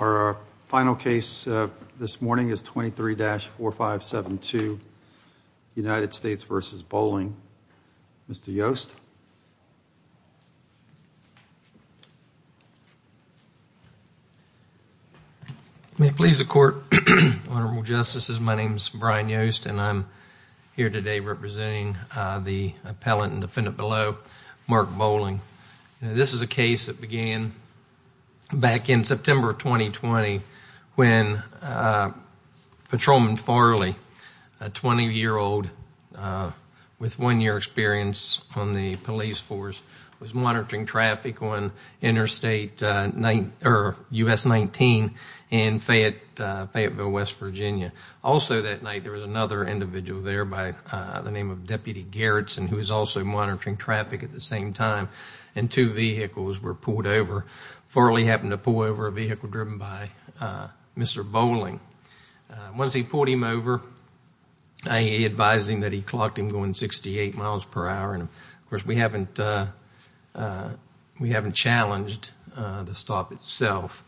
Our final case this morning is 23-4572, United States v. Bolling. Mr. Yost. May it please the Court, Honorable Justices, my name is Brian Yost and I'm here today representing the appellant and defendant below, Mark Bolling. This is a case that began back in September of 2020 when Patrolman Farley, a 20-year-old with one-year experience on the police force, was monitoring traffic on Interstate US 19 in Fayetteville, West Virginia. Also that night there was another individual there by the name of Deputy Gerritsen who was also monitoring traffic at the same time, and two vehicles were pulled over. Farley happened to pull over a vehicle driven by Mr. Bolling. Once he pulled him over, he advised him that he clocked him going 68 miles per hour. Of course, we haven't challenged the stop itself,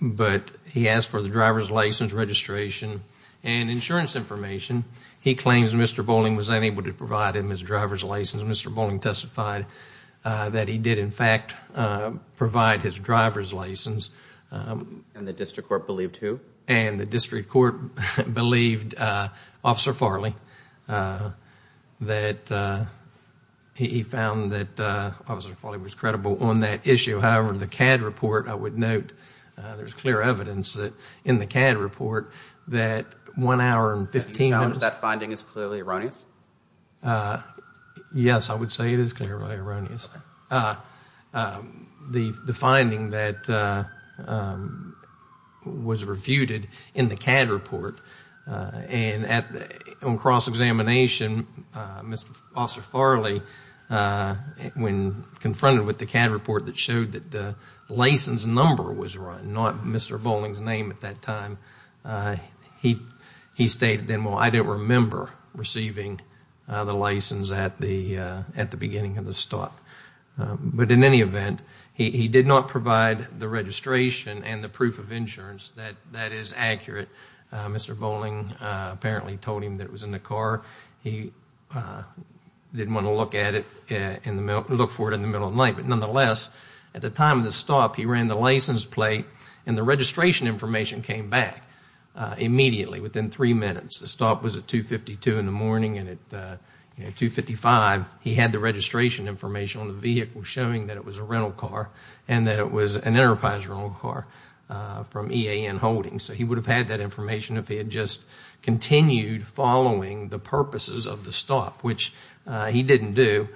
but he asked for the driver's license registration and insurance information. He claims Mr. Bolling was unable to provide him his driver's license. Mr. Bolling testified that he did in fact provide his driver's license. And the district court believed who? And the district court believed Officer Farley. He found that Officer Farley was credible on that issue. However, the CAD report, I would note, there's clear evidence in the CAD report that one hour and 15 minutes... Do you challenge that finding is clearly erroneous? Yes, I would say it is clearly erroneous. The finding that was refuted in the CAD report, and on cross-examination, Officer Farley, when confronted with the CAD report that showed that the license number was wrong, not Mr. Bolling's name at that time, he stated then, I don't remember receiving the license at the beginning of the stop. But in any event, he did not provide the registration and the proof of insurance. That is accurate. Mr. Bolling apparently told him that it was in the car. He didn't want to look for it in the middle of the night. But nonetheless, at the time of the stop, he ran the license plate and the registration information came back immediately, within three minutes. The stop was at 2.52 in the morning and at 2.55, he had the registration information on the vehicle, showing that it was a rental car and that it was an enterprise rental car from EAN Holdings. So, he would have had that information if he had just continued following the purposes of the stop, which he didn't do.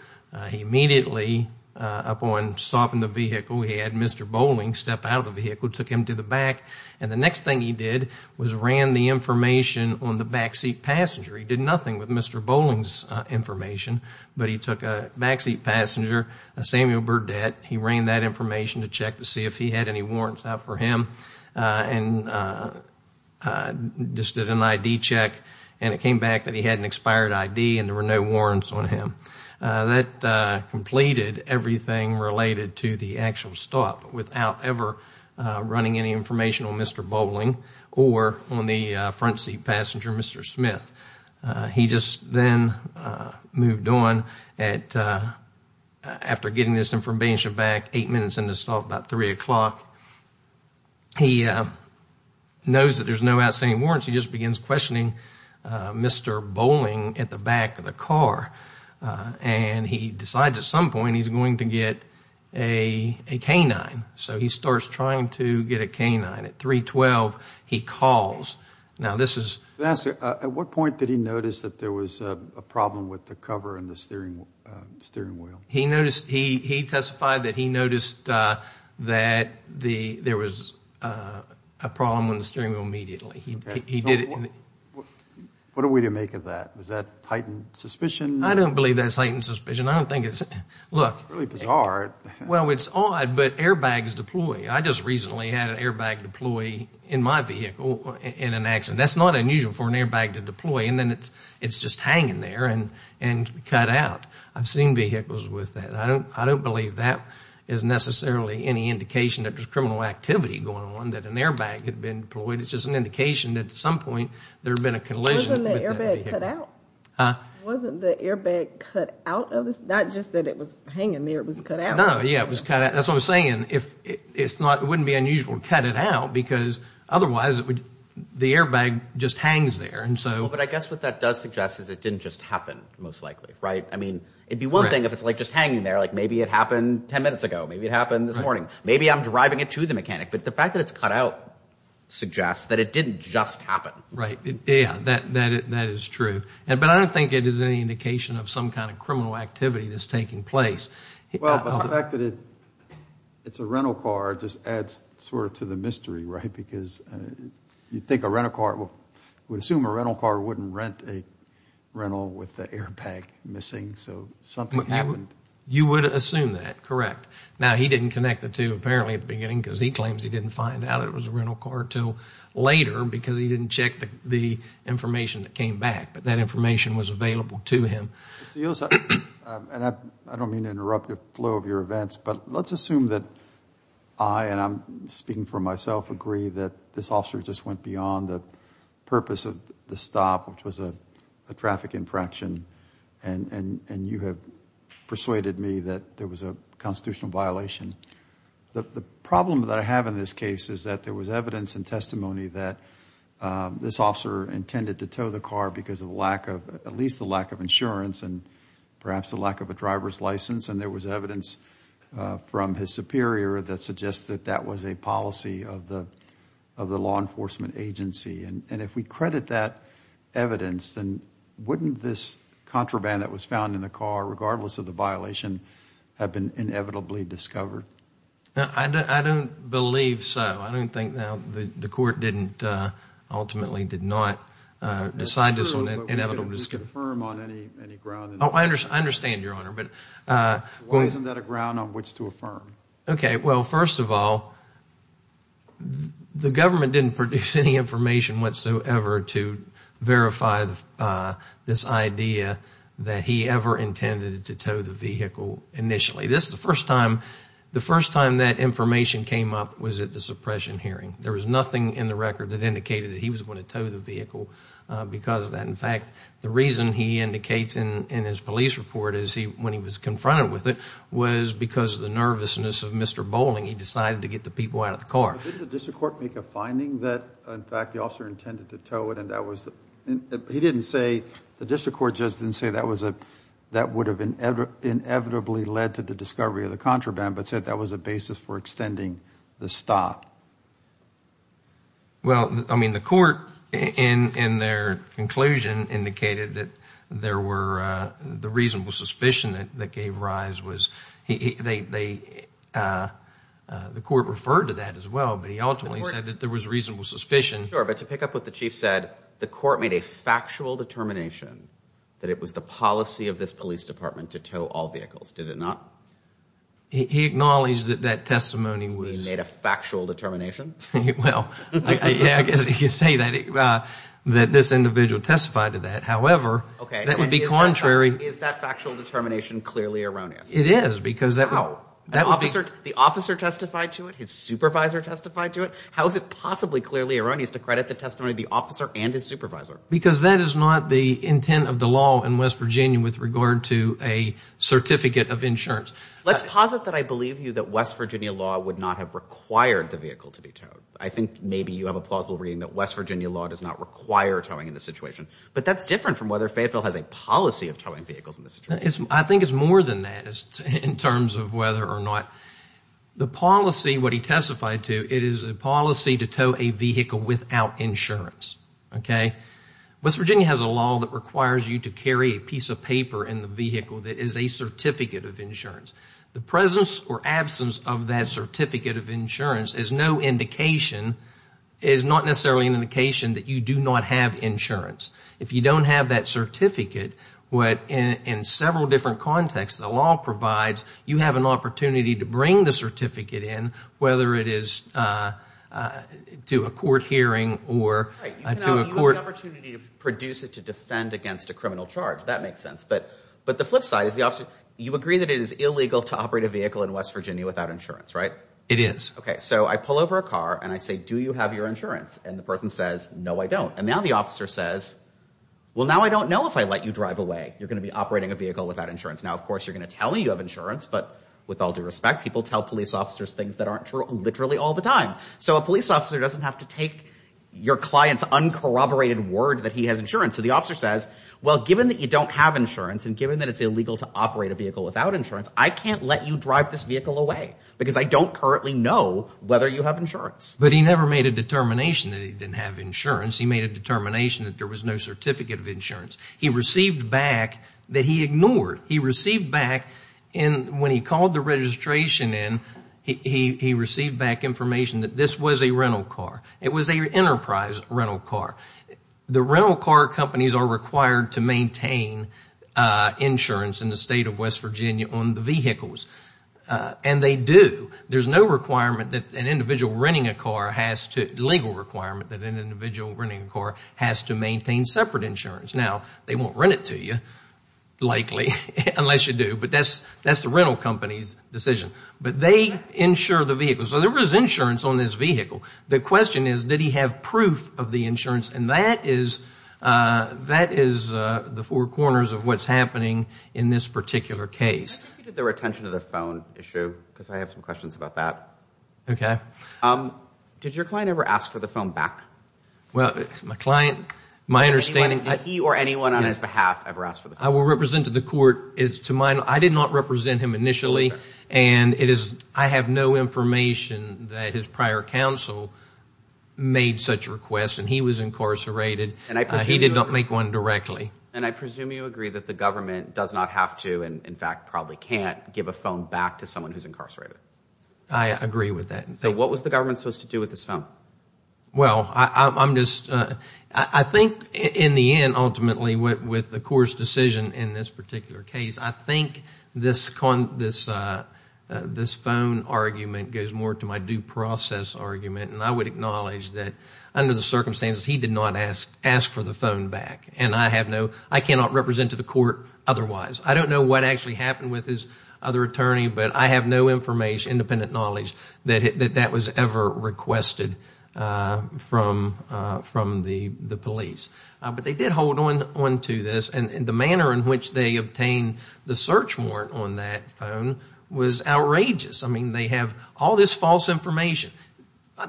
He immediately, upon stopping the vehicle, he had Mr. Bolling step out of the vehicle, took him to the back. And the next thing he did was ran the information on the backseat passenger. He did nothing with Mr. Bolling's information, but he took a backseat passenger, a Samuel Burdett, he ran that information to check to see if he had any warrants out for him and just did an ID check. And it came back that he had an expired ID and there were no warrants on him. That completed everything related to the actual stop without ever running any information on Mr. Bolling or on the frontseat passenger, Mr. Smith. He just then moved on. After getting this information back, eight minutes into the stop, about 3 o'clock, he knows that there's no outstanding warrants. He just begins questioning Mr. Bolling at the back of the car. And he decides at some point he's going to get a K-9. So, he starts trying to get a K-9. At 3-12, he calls. Now, this is... At what point did he notice that there was a problem with the cover and the steering wheel? He testified that he noticed that there was a problem with the steering wheel immediately. What are we to make of that? Is that heightened suspicion? I don't believe that's heightened suspicion. I don't think it's... Look. Really bizarre. Well, it's odd, but airbags deploy. I just recently had an airbag deploy in my vehicle in an accident. That's not unusual for an airbag to deploy. And then it's just hanging there and cut out. I've seen vehicles with that. I don't believe that is necessarily any indication that there's criminal activity going on, that an airbag had been deployed. It's just an indication that at some point there had been a collision. Huh? Wasn't the airbag cut out of this? Not just that it was hanging there. It was cut out. No, yeah. It was cut out. That's what I'm saying. It wouldn't be unusual to cut it out because otherwise the airbag just hangs there. But I guess what that does suggest is it didn't just happen, most likely, right? I mean, it'd be one thing if it's just hanging there. Like, maybe it happened 10 minutes ago. Maybe it happened this morning. Maybe I'm deriving it to the mechanic. But the fact that it's cut out suggests that it didn't just happen. Yeah, that is true. But I don't think it is any indication of some kind of criminal activity that's taking place. Well, but the fact that it's a rental car just adds sort of to the mystery, right? Because you'd think a rental car would assume a rental car wouldn't rent a rental with the airbag missing. So something happened. You would assume that, correct. Now, he didn't connect the two, apparently, at the beginning because he claims he didn't find out it was a rental car until later because he didn't check the information that came back. But that information was available to him. I don't mean to interrupt the flow of your events, but let's assume that I, and I'm speaking for myself, agree that this officer just went beyond the purpose of the stop, which was a traffic infraction, and you have persuaded me that there was a constitutional violation. The problem that I have in this case is that there was evidence and testimony that this officer intended to tow the car because of the lack of, at least the lack of insurance and perhaps the lack of a driver's license. And there was evidence from his superior that suggests that that was a policy of the law enforcement agency. And if we credit that evidence, then wouldn't this contraband that was found in the car, regardless of the violation, have been inevitably discovered? I don't believe so. I don't think the court ultimately did not decide this was an inevitable discovery. I'm not sure that we can affirm on any ground. I understand, Your Honor. Why isn't that a ground on which to affirm? Okay, well, first of all, the government didn't produce any information whatsoever to verify this idea that he ever intended to tow the vehicle initially. This is the first time, the first time that information came up was at the suppression hearing. There was nothing in the record that indicated that he was going to tow the vehicle because of that. In fact, the reason he indicates in his police report is he, when he was confronted with it, was because of the nervousness of Mr. Bowling. He decided to get the people out of the car. Didn't the district court make a finding that, in fact, the officer intended to tow it? He didn't say, the district court just didn't say that would have inevitably led to the discovery of the contraband, but said that was a basis for extending the stop. Well, I mean, the court in their conclusion indicated that there were, the reasonable suspicion that gave rise was, they, the court referred to that as well, but he ultimately said that there was reasonable suspicion. Sure, but to pick up what the chief said, the court made a factual determination that it was the policy of this police department to tow all vehicles, did it not? He acknowledged that that testimony was. He made a factual determination? Well, yeah, I guess you could say that this individual testified to that. However, that would be contrary. Is that factual determination clearly erroneous? It is because that. How? The officer testified to it? His supervisor testified to it? How is it possibly clearly erroneous to credit the testimony of the officer and his supervisor? Because that is not the intent of the law in West Virginia with regard to a certificate of insurance. Let's posit that I believe you that West Virginia law would not have required the vehicle to be towed. I think maybe you have a plausible reading that West Virginia law does not require towing in this situation, but that's different from whether Fayetteville has a policy of towing vehicles in this situation. I think it's more than that in terms of whether or not the policy, what he testified to, it is a policy to tow a vehicle without insurance. West Virginia has a law that requires you to carry a piece of paper in the vehicle that is a certificate of insurance. The presence or absence of that certificate of insurance is not necessarily an indication that you do not have insurance. If you don't have that certificate, in several different contexts, the law provides you have an opportunity to bring the certificate in, whether it is to a court hearing or to a court. You have the opportunity to produce it to defend against a criminal charge. That makes sense. But the flip side is you agree that it is illegal to operate a vehicle in West Virginia without insurance, right? It is. Okay. So I pull over a car and I say, do you have your insurance? And the person says, no, I don't. And now the officer says, well, now I don't know if I let you drive away. You're going to be operating a vehicle without insurance. Now, of course, you're going to tell me you have insurance. But with all due respect, people tell police officers things that aren't true literally all the time. So a police officer doesn't have to take your client's uncorroborated word that he has insurance. So the officer says, well, given that you don't have insurance and given that it's illegal to operate a vehicle without insurance, I can't let you drive this vehicle away because I don't currently know whether you have insurance. But he never made a determination that he didn't have insurance. He made a determination that there was no certificate of insurance. He received back that he ignored. He received back when he called the registration in, he received back information that this was a rental car. It was an enterprise rental car. The rental car companies are required to maintain insurance in the state of West Virginia on the vehicles. And they do. There's no requirement that an individual renting a car has to, legal requirement that an individual renting a car has to maintain separate insurance. Now, they won't rent it to you, likely, unless you do. But that's the rental company's decision. But they insure the vehicle. So there is insurance on this vehicle. The question is, did he have proof of the insurance? And that is the four corners of what's happening in this particular case. I think you did the retention of the phone issue because I have some questions about that. Okay. Did your client ever ask for the phone back? Well, my client, my understanding. Did he or anyone on his behalf ever ask for the phone back? I will represent to the court. I did not represent him initially. And I have no information that his prior counsel made such a request. And he was incarcerated. He did not make one directly. And I presume you agree that the government does not have to and, in fact, probably can't give a phone back to someone who's incarcerated. I agree with that. So what was the government supposed to do with this phone? Well, I'm just. I think in the end, ultimately, with the court's decision in this particular case, I think this phone argument goes more to my due process argument. And I would acknowledge that under the circumstances, he did not ask for the phone back. And I have no. I cannot represent to the court otherwise. I don't know what actually happened with his other attorney. But I have no information, independent knowledge, that that was ever requested from the police. But they did hold on to this. And the manner in which they obtained the search warrant on that phone was outrageous. I mean, they have all this false information.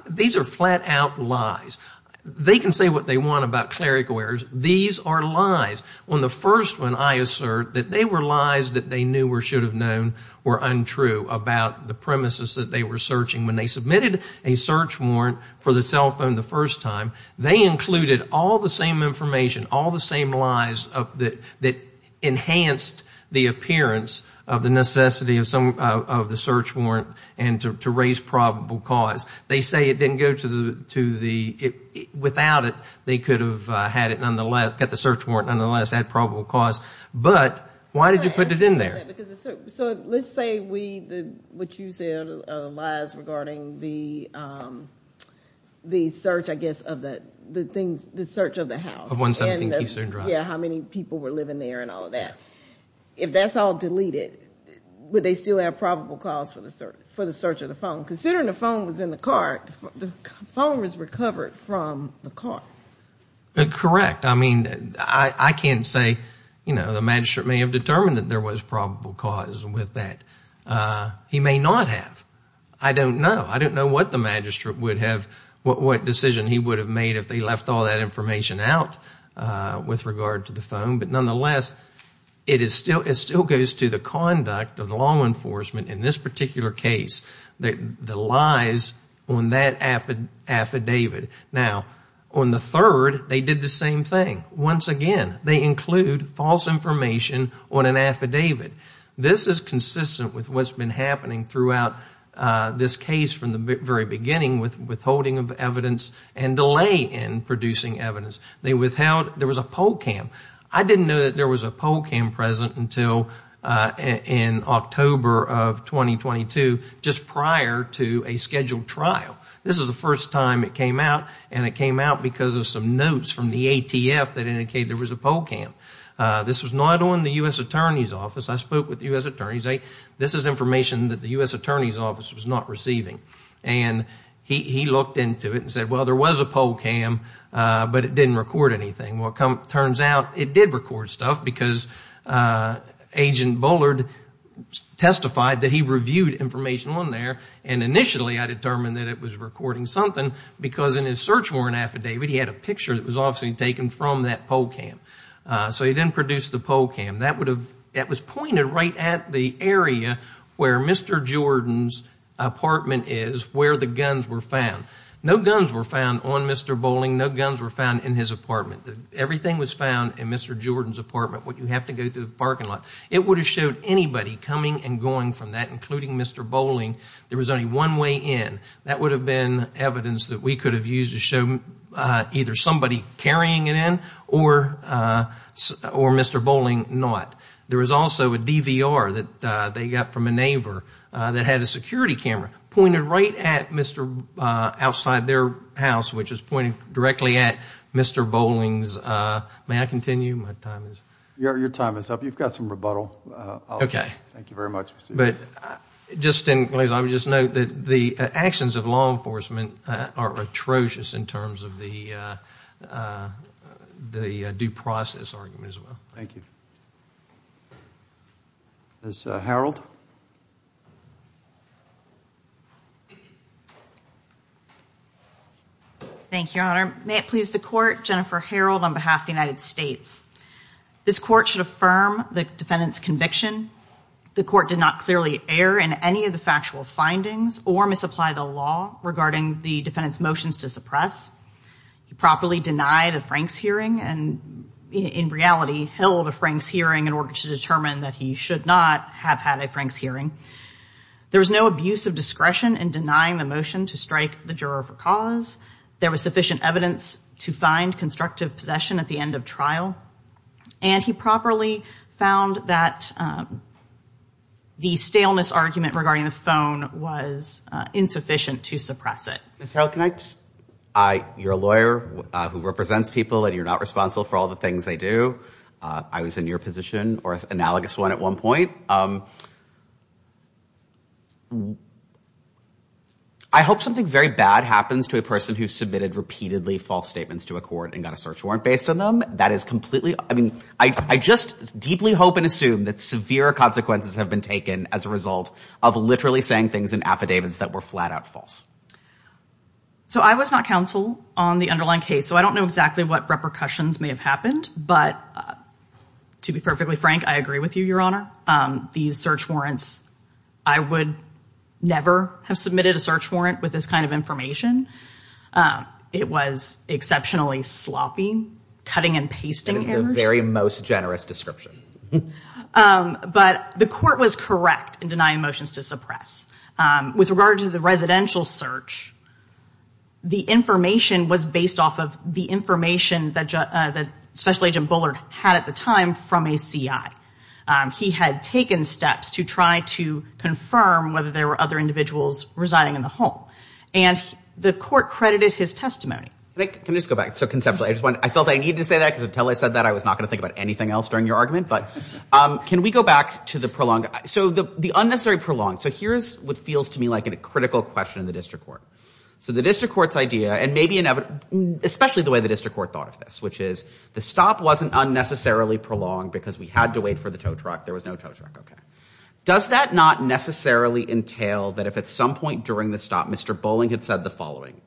These are flat-out lies. They can say what they want about clerical errors. These are lies. On the first one, I assert that they were lies that they knew or should have known were untrue about the premises that they were searching. When they submitted a search warrant for the cell phone the first time, they included all the same information, all the same lies that enhanced the appearance of the necessity of the search warrant and to raise probable cause. They say it didn't go to the. Without it, they could have had it nonetheless, got the search warrant nonetheless, had probable cause. But why did you put it in there? So let's say we, what you said, lies regarding the search, I guess, of the things, the search of the house. Of 117 Keystone Drive. Yeah, how many people were living there and all of that. If that's all deleted, would they still have probable cause for the search of the phone? Considering the phone was in the car, the phone was recovered from the car. Correct. I mean, I can't say, you know, the magistrate may have determined that there was probable cause with that. He may not have. I don't know. I don't know what the magistrate would have, what decision he would have made if they left all that information out with regard to the phone. But nonetheless, it still goes to the conduct of the law enforcement in this particular case, the lies on that affidavit. Now, on the third, they did the same thing. Once again, they include false information on an affidavit. This is consistent with what's been happening throughout this case from the very beginning with withholding of evidence and delay in producing evidence. They withheld, there was a poll cam. I didn't know that there was a poll cam present until in October of 2022, just prior to a scheduled trial. This is the first time it came out, and it came out because of some notes from the ATF that indicated there was a poll cam. This was not on the U.S. Attorney's Office. I spoke with the U.S. Attorney's. This is information that the U.S. Attorney's Office was not receiving. And he looked into it and said, well, there was a poll cam, but it didn't record anything. Well, it turns out it did record stuff because Agent Bullard testified that he reviewed information on there, and initially I determined that it was recording something because in his search warrant affidavit, he had a picture that was obviously taken from that poll cam. So he didn't produce the poll cam. That was pointed right at the area where Mr. Jordan's apartment is where the guns were found. No guns were found on Mr. Bowling. No guns were found in his apartment. Everything was found in Mr. Jordan's apartment, what you have to go through the parking lot. It would have showed anybody coming and going from that, including Mr. Bowling. There was only one way in. That would have been evidence that we could have used to show either somebody carrying it in or Mr. Bowling not. There was also a DVR that they got from a neighbor that had a security camera pointed right at Mr. outside their house, which is pointing directly at Mr. Bowling's. May I continue? Your time is up. You've got some rebuttal. Thank you very much. I would just note that the actions of law enforcement are atrocious in terms of the due process argument as well. Thank you. Ms. Harreld? Thank you, Your Honor. May it please the court, Jennifer Harreld on behalf of the United States. This court should affirm the defendant's conviction. The court did not clearly err in any of the factual findings or misapply the law regarding the defendant's motions to suppress. He properly denied a Franks hearing and in reality held a Franks hearing in order to determine that he should not have had a Franks hearing. There was no abuse of discretion in denying the motion to strike the juror for cause. There was sufficient evidence to find constructive possession at the end of trial. And he properly found that the staleness argument regarding the phone was insufficient to suppress it. Ms. Harreld, can I just – you're a lawyer who represents people and you're not responsible for all the things they do. I was in your position or an analogous one at one point. I hope something very bad happens to a person who submitted repeatedly false statements to a court and got a search warrant based on them. I just deeply hope and assume that severe consequences have been taken as a result of literally saying things in affidavits that were flat out false. So I was not counsel on the underlying case, so I don't know exactly what repercussions may have happened. But to be perfectly frank, I agree with you, Your Honor. These search warrants – I would never have submitted a search warrant with this kind of information. It was exceptionally sloppy, cutting and pasting orders. That is the very most generous description. But the court was correct in denying motions to suppress. With regard to the residential search, the information was based off of the information that Special Agent Bullard had at the time from a C.I. He had taken steps to try to confirm whether there were other individuals residing in the home. And the court credited his testimony. Can I just go back so conceptually? I felt I needed to say that because until I said that, I was not going to think about anything else during your argument. But can we go back to the prolonged – so the unnecessary prolonged. So here's what feels to me like a critical question in the district court. So the district court's idea, and maybe – especially the way the district court thought of this, which is the stop wasn't unnecessarily prolonged because we had to wait for the tow truck. There was no tow truck. Does that not necessarily entail that if at some point during the stop Mr. Bowling had said the following,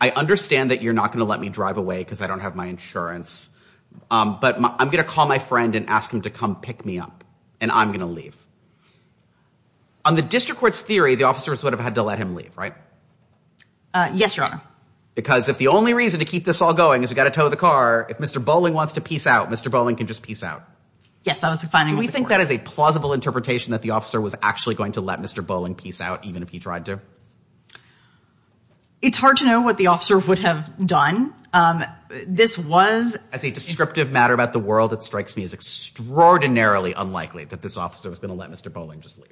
I understand that you're not going to let me drive away because I don't have my insurance, but I'm going to call my friend and ask him to come pick me up, and I'm going to leave. On the district court's theory, the officers would have had to let him leave, right? Yes, Your Honor. Because if the only reason to keep this all going is we've got to tow the car, if Mr. Bowling wants to peace out, Mr. Bowling can just peace out. Yes, that was the finding of the court. Do we think that is a plausible interpretation that the officer was actually going to let Mr. Bowling peace out, even if he tried to? It's hard to know what the officer would have done. This was – As a descriptive matter about the world, it strikes me as extraordinarily unlikely that this officer was going to let Mr. Bowling just leave.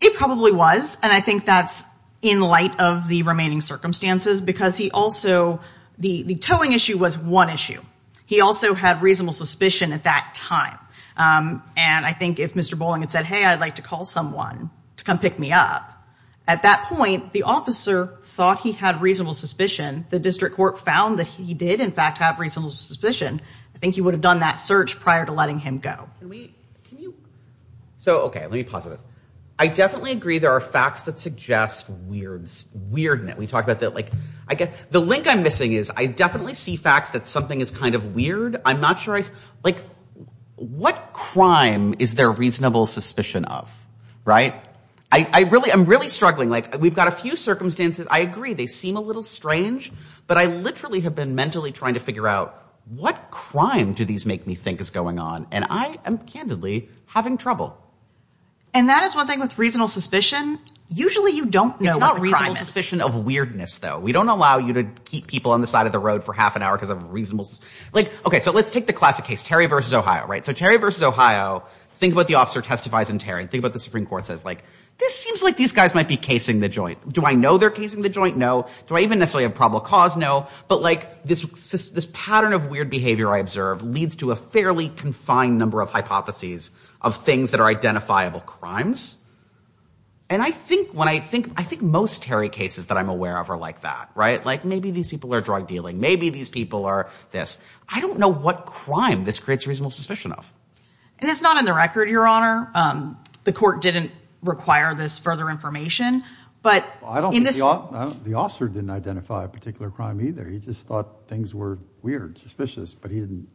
It probably was, and I think that's in light of the remaining circumstances because he also – the towing issue was one issue. He also had reasonable suspicion at that time, and I think if Mr. Bowling had said, hey, I'd like to call someone to come pick me up, at that point, the officer thought he had reasonable suspicion. The district court found that he did, in fact, have reasonable suspicion. I think he would have done that search prior to letting him go. Can we – can you – so, okay, let me pause on this. I definitely agree there are facts that suggest weirdness. We talked about that. I guess the link I'm missing is I definitely see facts that something is kind of weird. I'm not sure I – like, what crime is there reasonable suspicion of, right? I really – I'm really struggling. Like, we've got a few circumstances. I agree they seem a little strange, but I literally have been mentally trying to figure out what crime do these make me think is going on, and I am, candidly, having trouble. And that is one thing with reasonable suspicion. Usually you don't know what the crime is. It's not reasonable suspicion of weirdness, though. We don't allow you to keep people on the side of the road for half an hour because of reasonable – like, okay, so let's take the classic case, Terry v. Ohio, right? So Terry v. Ohio, think about the officer testifies in Terry. Think about the Supreme Court says, like, this seems like these guys might be casing the joint. Do I know they're casing the joint? No. Do I even necessarily have probable cause? No. But, like, this pattern of weird behavior I observe leads to a fairly confined number of hypotheses of things that are identifiable crimes, and I think when I think – I think most Terry cases that I'm aware of are like that, right? Like, maybe these people are drug dealing. Maybe these people are this. I don't know what crime this creates reasonable suspicion of. And it's not in the record, Your Honor. The court didn't require this further information, but in this – Well, I don't think the officer didn't identify a particular crime either. He just thought things were weird, suspicious, but he didn't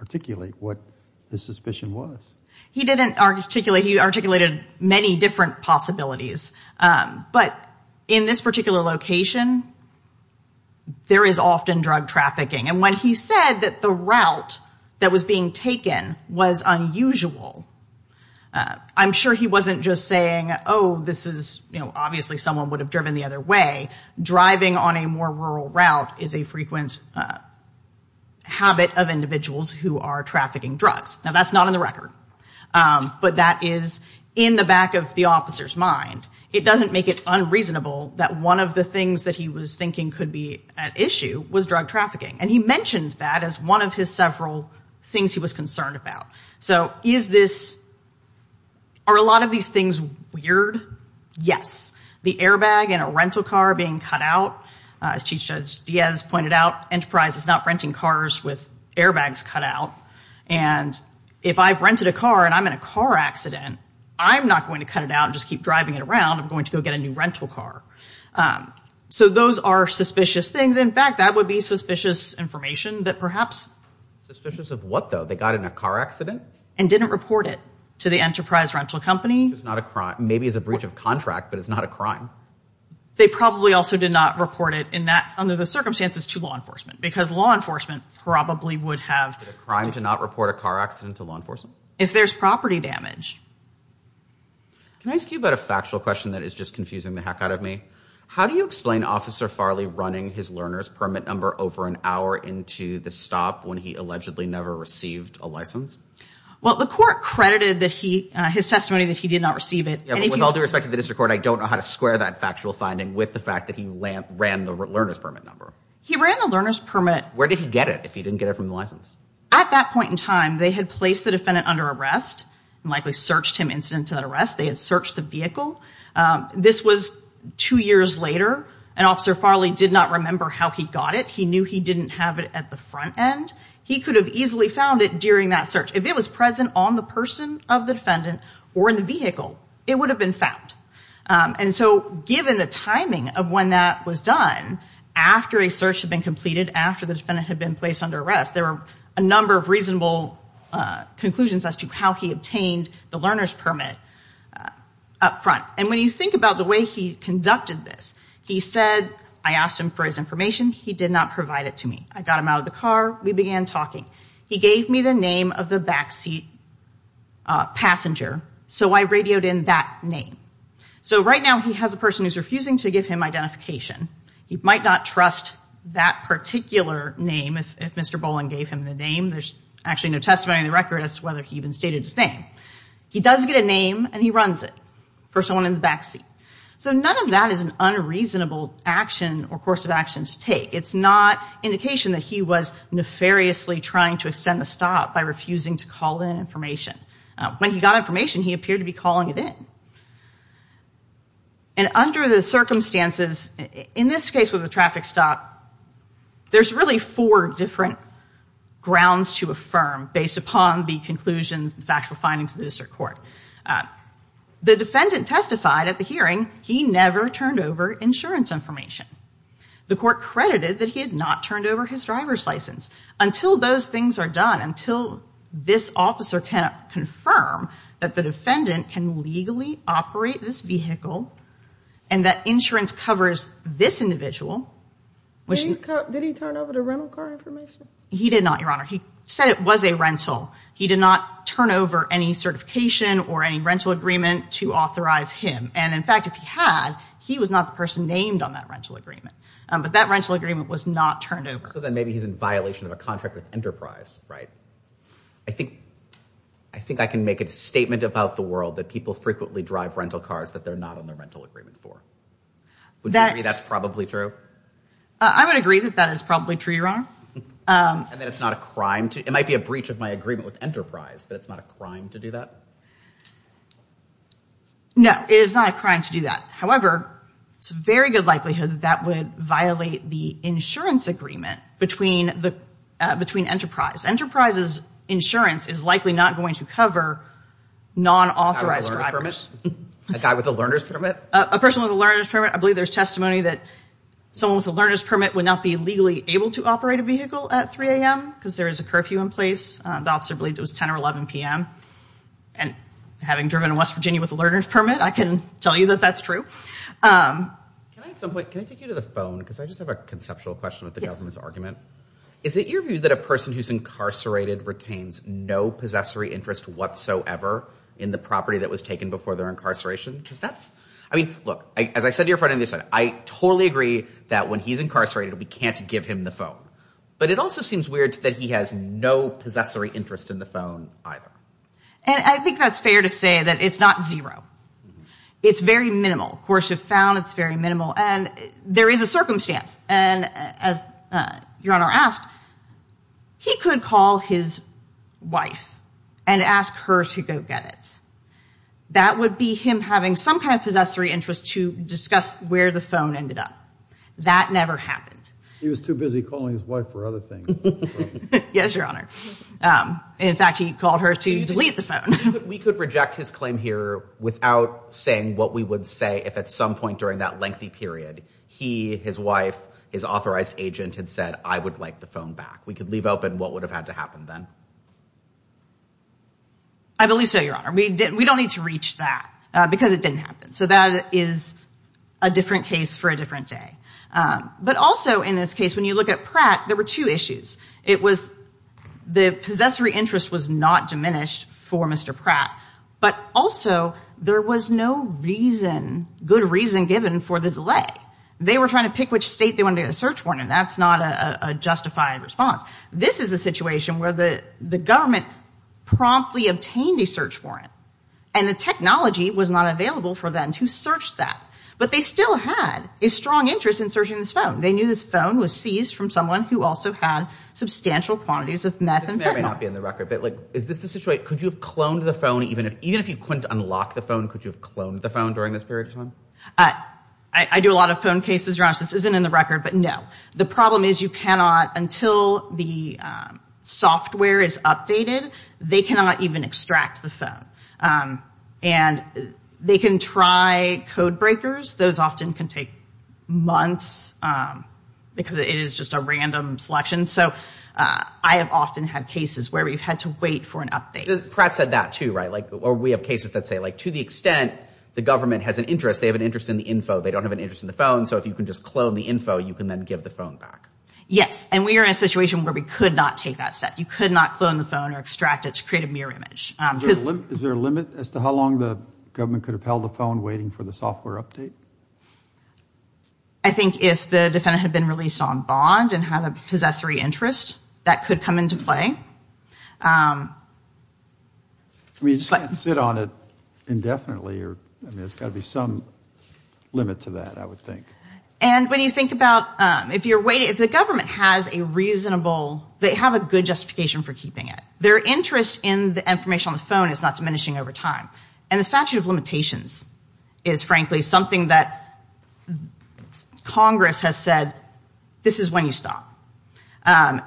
articulate what the suspicion was. He didn't articulate – he articulated many different possibilities. But in this particular location, there is often drug trafficking, and when he said that the route that was being taken was unusual, I'm sure he wasn't just saying, oh, this is – you know, obviously someone would have driven the other way. He said driving on a more rural route is a frequent habit of individuals who are trafficking drugs. Now, that's not in the record, but that is in the back of the officer's mind. It doesn't make it unreasonable that one of the things that he was thinking could be at issue was drug trafficking, and he mentioned that as one of his several things he was concerned about. So is this – are a lot of these things weird? Yes. The airbag in a rental car being cut out. As Chief Judge Diaz pointed out, Enterprise is not renting cars with airbags cut out, and if I've rented a car and I'm in a car accident, I'm not going to cut it out and just keep driving it around. I'm going to go get a new rental car. So those are suspicious things. In fact, that would be suspicious information that perhaps – Suspicious of what, though? They got in a car accident? And didn't report it to the Enterprise rental company. Maybe as a breach of contract, but it's not a crime. They probably also did not report it in that – under the circumstances to law enforcement, because law enforcement probably would have – A crime to not report a car accident to law enforcement? If there's property damage. Can I ask you about a factual question that is just confusing the heck out of me? How do you explain Officer Farley running his learner's permit number over an hour into the stop when he allegedly never received a license? Well, the court credited his testimony that he did not receive it. With all due respect to the district court, I don't know how to square that factual finding with the fact that he ran the learner's permit number. He ran the learner's permit. Where did he get it if he didn't get it from the license? At that point in time, they had placed the defendant under arrest and likely searched him incident to that arrest. They had searched the vehicle. This was two years later, and Officer Farley did not remember how he got it. He knew he didn't have it at the front end. He could have easily found it during that search. If it was present on the person of the defendant or in the vehicle, it would have been found. And so given the timing of when that was done, after a search had been completed, after the defendant had been placed under arrest, there were a number of reasonable conclusions as to how he obtained the learner's permit up front. And when you think about the way he conducted this, he said, I asked him for his information. He did not provide it to me. I got him out of the car. We began talking. He gave me the name of the backseat passenger, so I radioed in that name. So right now he has a person who's refusing to give him identification. He might not trust that particular name if Mr. Boland gave him the name. There's actually no testimony on the record as to whether he even stated his name. He does get a name, and he runs it for someone in the backseat. So none of that is an unreasonable action or course of action to take. It's not indication that he was nefariously trying to extend the stop by refusing to call in information. When he got information, he appeared to be calling it in. And under the circumstances, in this case with the traffic stop, there's really four different grounds to affirm based upon the conclusions, the factual findings of the district court. The defendant testified at the hearing he never turned over insurance information. The court credited that he had not turned over his driver's license. Until those things are done, until this officer can confirm that the defendant can legally operate this vehicle and that insurance covers this individual. Did he turn over the rental car information? He did not, Your Honor. He said it was a rental. He did not turn over any certification or any rental agreement to authorize him. And in fact, if he had, he was not the person named on that rental agreement. But that rental agreement was not turned over. So then maybe he's in violation of a contract with Enterprise, right? I think I can make a statement about the world that people frequently drive rental cars that they're not on their rental agreement for. Would you agree that's probably true? I would agree that that is probably true, Your Honor. And that it's not a crime? It might be a breach of my agreement with Enterprise, but it's not a crime to do that? No, it is not a crime to do that. However, it's a very good likelihood that that would violate the insurance agreement between Enterprise. Enterprise's insurance is likely not going to cover non-authorized drivers. A guy with a learner's permit? A person with a learner's permit. I believe there's testimony that someone with a learner's permit would not be legally able to operate a vehicle at 3 a.m. because there is a curfew in place. The officer believed it was 10 or 11 p.m. And having driven in West Virginia with a learner's permit, I can tell you that that's true. Can I at some point, can I take you to the phone? Because I just have a conceptual question with the government's argument. Is it your view that a person who's incarcerated retains no possessory interest whatsoever in the property that was taken before their incarceration? Because that's, I mean, look, as I said to your friend on the other side, I totally agree that when he's incarcerated, we can't give him the phone. But it also seems weird that he has no possessory interest in the phone either. And I think that's fair to say that it's not zero. It's very minimal. Of course, if found, it's very minimal. And there is a circumstance. And as your Honor asked, he could call his wife and ask her to go get it. That would be him having some kind of possessory interest to discuss where the phone ended up. That never happened. He was too busy calling his wife for other things. Yes, your Honor. In fact, he called her to delete the phone. We could reject his claim here without saying what we would say if at some point during that lengthy period, he, his wife, his authorized agent had said, I would like the phone back. We could leave open what would have had to happen then. I believe so, your Honor. We don't need to reach that because it didn't happen. So that is a different case for a different day. But also in this case, when you look at Pratt, there were two issues. It was the possessory interest was not diminished for Mr. Pratt. But also, there was no reason, good reason given for the delay. They were trying to pick which state they wanted to get a search warrant in. That's not a justified response. This is a situation where the government promptly obtained a search warrant. And the technology was not available for them to search that. But they still had a strong interest in searching this phone. They knew this phone was seized from someone who also had substantial quantities of meth and fentanyl. This may or may not be in the record, but is this the situation, could you have cloned the phone, even if you couldn't unlock the phone, could you have cloned the phone during this period of time? I do a lot of phone cases, your Honor. This isn't in the record, but no. The problem is you cannot, until the software is updated, they cannot even extract the phone. And they can try code breakers. Those often can take months because it is just a random selection. So I have often had cases where we've had to wait for an update. Pratt said that, too, right? Or we have cases that say, like, to the extent the government has an interest, they have an interest in the info. They don't have an interest in the phone. So if you can just clone the info, you can then give the phone back. Yes. And we are in a situation where we could not take that step. You could not clone the phone or extract it to create a mirror image. Is there a limit as to how long the government could have held the phone waiting for the software update? I think if the defendant had been released on bond and had a possessory interest, that could come into play. I mean, you just can't sit on it indefinitely. I mean, there's got to be some limit to that, I would think. And when you think about, if the government has a reasonable, they have a good justification for keeping it. Their interest in the information on the phone is not diminishing over time. And the statute of limitations is, frankly, something that Congress has said, this is when you stop. And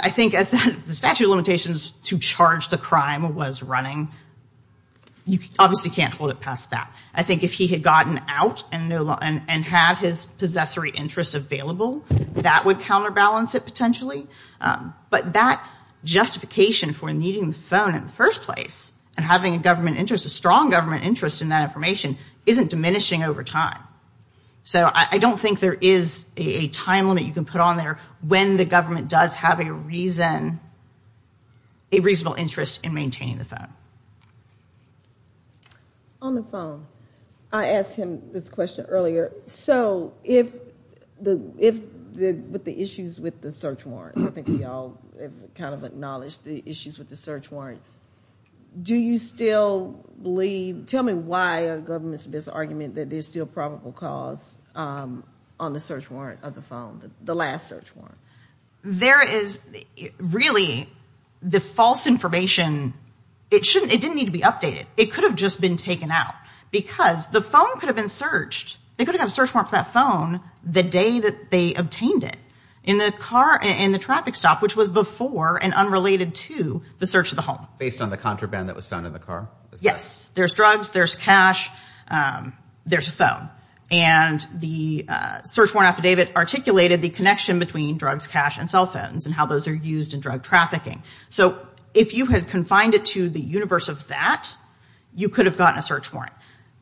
I think the statute of limitations to charge the crime was running. You obviously can't hold it past that. I think if he had gotten out and had his possessory interest available, that would counterbalance it, potentially. But that justification for needing the phone in the first place and having a government interest, a strong government interest in that information, isn't diminishing over time. So I don't think there is a time limit you can put on there when the government does have a reason, a reasonable interest in maintaining the phone. On the phone, I asked him this question earlier. So, with the issues with the search warrant, I think we all kind of acknowledged the issues with the search warrant. Do you still believe, tell me why are governments of this argument that there's still probable cause on the search warrant of the phone, the last search warrant? There is, really, the false information, it didn't need to be updated. It could have just been taken out. Because the phone could have been searched. They could have gotten a search warrant for that phone the day that they obtained it, in the car, in the traffic stop, which was before and unrelated to the search of the home. Based on the contraband that was found in the car? Yes. There's drugs, there's cash, there's a phone. And the search warrant affidavit articulated the connection between drugs, cash, and cell phones and how those are used in drug trafficking. So, if you had confined it to the universe of that, you could have gotten a search warrant.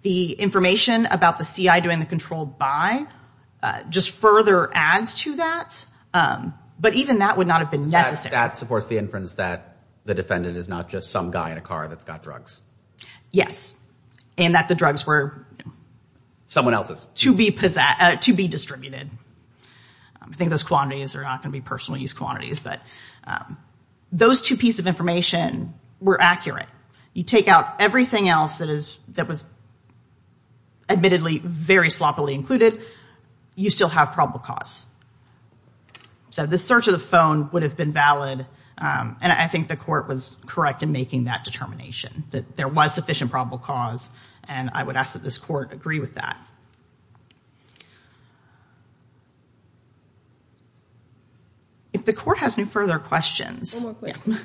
The information about the CI doing the controlled buy just further adds to that. But even that would not have been necessary. That supports the inference that the defendant is not just some guy in a car that's got drugs. Yes. And that the drugs were... Someone else's. To be distributed. I think those quantities are not going to be personal use quantities. Those two pieces of information were accurate. You take out everything else that was admittedly very sloppily included, you still have probable cause. So, the search of the phone would have been valid, and I think the court was correct in making that determination, that there was sufficient probable cause, and I would ask that this court agree with that. If the court has no further questions... One more question.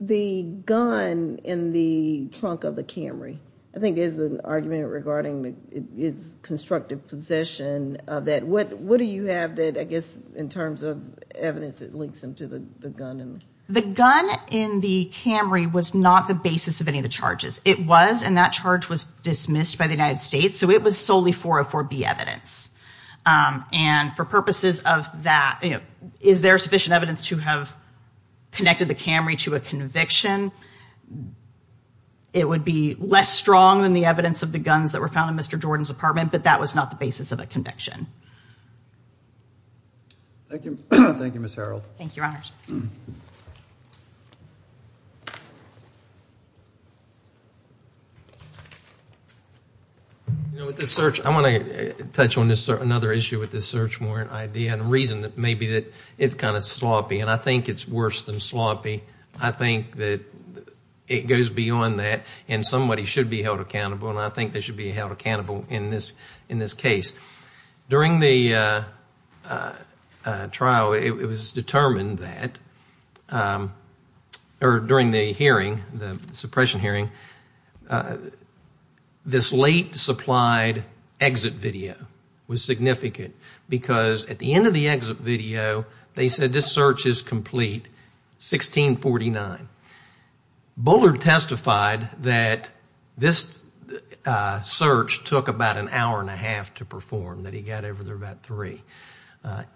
The gun in the trunk of the Camry, I think there's an argument regarding its constructive possession of that. What do you have that, I guess, in terms of evidence that links them to the gun? The gun in the Camry was not the basis of any of the charges. It was, and that charge was dismissed by the United States, so it was solely 404B evidence. And for purposes of that, you know, is there sufficient evidence to have connected the Camry to a conviction? It would be less strong than the evidence of the guns that were found in Mr. Jordan's apartment, but that was not the basis of a conviction. Thank you, Ms. Harreld. Thank you, Your Honors. With this search, I want to touch on another issue with this search warrant idea and reason that maybe it's kind of sloppy, and I think it's worse than sloppy. I think that it goes beyond that, and somebody should be held accountable, and I think they should be held accountable in this case. During the trial, it was determined that, or during the hearing, the suppression hearing, this late supplied exit video was significant because at the end of the exit video, they said this search is complete, 1649. Bullard testified that this search took about an hour and a half to perform, that he got over there about three.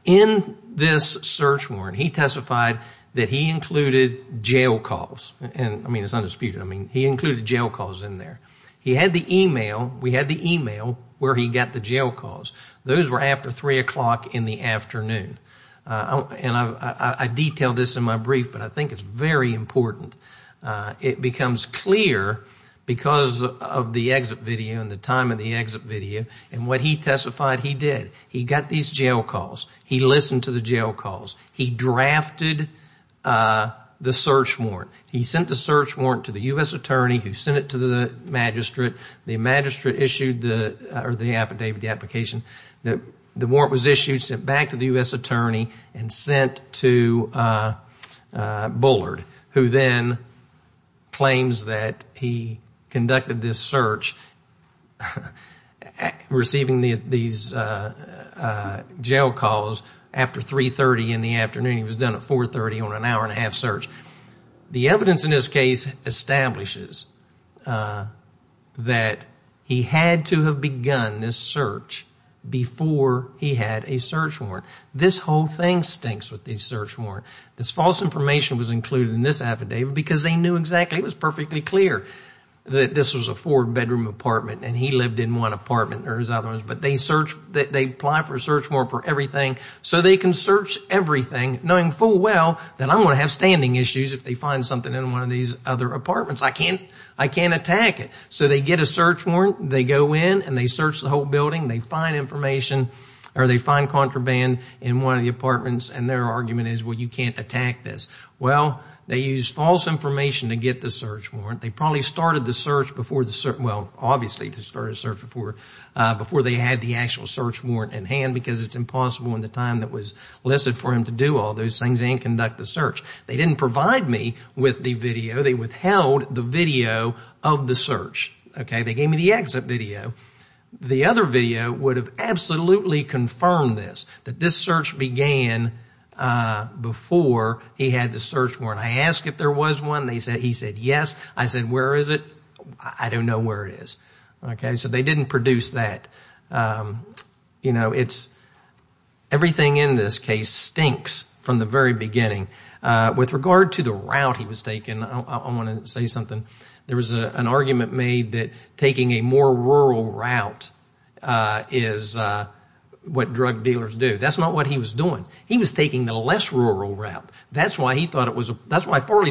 In this search warrant, he testified that he included jail calls. I mean, it's undisputed. I mean, he included jail calls in there. He had the email. We had the email where he got the jail calls. Those were after 3 o'clock in the afternoon, and I detailed this in my brief, but I think it's very important. It becomes clear because of the exit video and the time of the exit video, and what he testified he did. He got these jail calls. He listened to the jail calls. He drafted the search warrant. He sent the search warrant to the U.S. attorney who sent it to the magistrate. The magistrate issued the affidavit, the application. The warrant was issued, sent back to the U.S. attorney, and sent to Bullard, who then claims that he conducted this search, receiving these jail calls, after 3.30 in the afternoon. He was done at 4.30 on an hour and a half search. The evidence in this case establishes that he had to have begun this search before he had a search warrant. This whole thing stinks with the search warrant. This false information was included in this affidavit because they knew exactly. It was perfectly clear that this was a four-bedroom apartment, and he lived in one apartment or his other ones, but they apply for a search warrant for everything so they can search everything, knowing full well that I'm going to have standing issues if they find something in one of these other apartments. I can't attack it. So they get a search warrant. They go in, and they search the whole building. They find information, or they find contraband in one of the apartments, and their argument is, well, you can't attack this. Well, they used false information to get the search warrant. They probably started the search before the search warrant, well, obviously they started the search before they had the actual search warrant in hand because it's impossible in the time that was listed for him to do all those things and conduct the search. They didn't provide me with the video. They withheld the video of the search. They gave me the exit video. The other video would have absolutely confirmed this, that this search began before he had the search warrant. I asked if there was one. He said, yes. I said, where is it? I don't know where it is. So they didn't produce that. Everything in this case stinks from the very beginning. With regard to the route he was taking, I want to say something. There was an argument made that taking a more rural route is what drug dealers do. That's not what he was doing. He was taking the less rural route. That's why Farley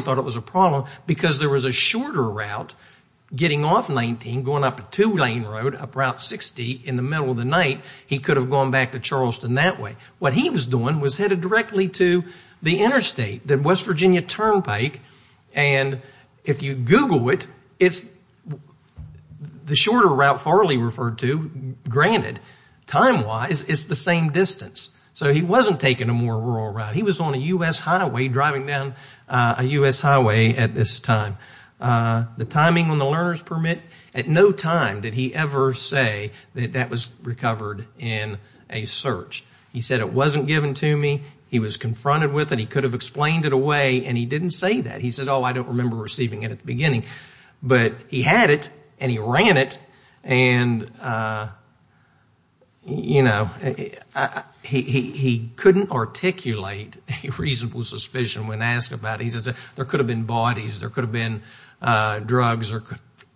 thought it was a problem, because there was a shorter route getting off 19 going up a two-lane road up Route 60 in the middle of the night. He could have gone back to Charleston that way. What he was doing was headed directly to the interstate, the West Virginia Turnpike, and if you Google it, it's the shorter route Farley referred to. Granted, time-wise, it's the same distance. So he wasn't taking a more rural route. He was on a U.S. highway, driving down a U.S. highway at this time. The timing on the learner's permit, at no time did he ever say that that was recovered in a search. He said, it wasn't given to me. He was confronted with it. He could have explained it away, and he didn't say that. He said, oh, I don't remember receiving it at the beginning. But he had it, and he ran it, and, you know, he couldn't articulate a reasonable suspicion when asked about it. He said there could have been bodies, there could have been drugs, there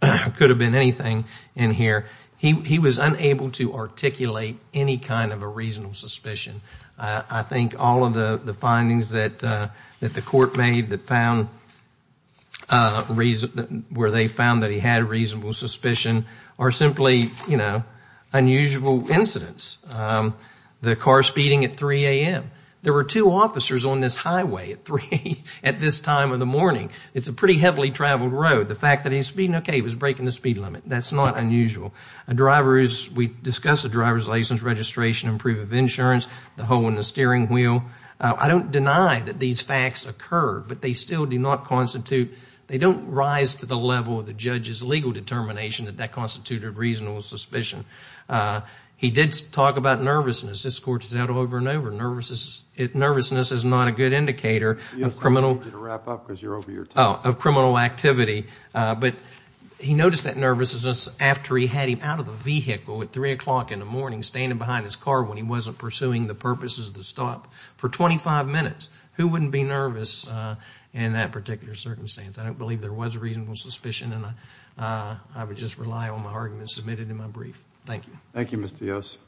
could have been anything in here. He was unable to articulate any kind of a reasonable suspicion. I think all of the findings that the court made where they found that he had a reasonable suspicion are simply, you know, unusual incidents. The car speeding at 3 a.m. There were two officers on this highway at this time of the morning. It's a pretty heavily traveled road. The fact that he's speeding, okay, he was breaking the speed limit. That's not unusual. We discussed the driver's license registration and proof of insurance, the hole in the steering wheel. I don't deny that these facts occurred, but they still do not constitute, they don't rise to the level of the judge's legal determination that that constituted a reasonable suspicion. He did talk about nervousness. This court has said over and over, nervousness is not a good indicator of criminal activity. But he noticed that nervousness after he had him out of the vehicle at 3 o'clock in the morning, standing behind his car when he wasn't pursuing the purposes of the stop for 25 minutes. Who wouldn't be nervous in that particular circumstance? I don't believe there was a reasonable suspicion, and I would just rely on the arguments submitted in my brief. Thank you. Thank you, Mr. Yost.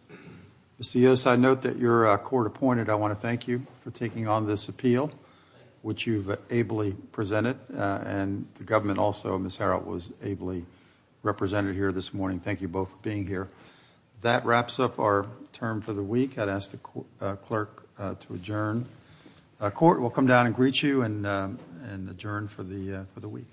Mr. Yost, I note that you're court-appointed. I want to thank you for taking on this appeal, which you've ably presented, and the government also, Ms. Harreld, was ably represented here this morning. Thank you both for being here. That wraps up our term for the week. I'd ask the clerk to adjourn. Court, we'll come down and greet you and adjourn for the week.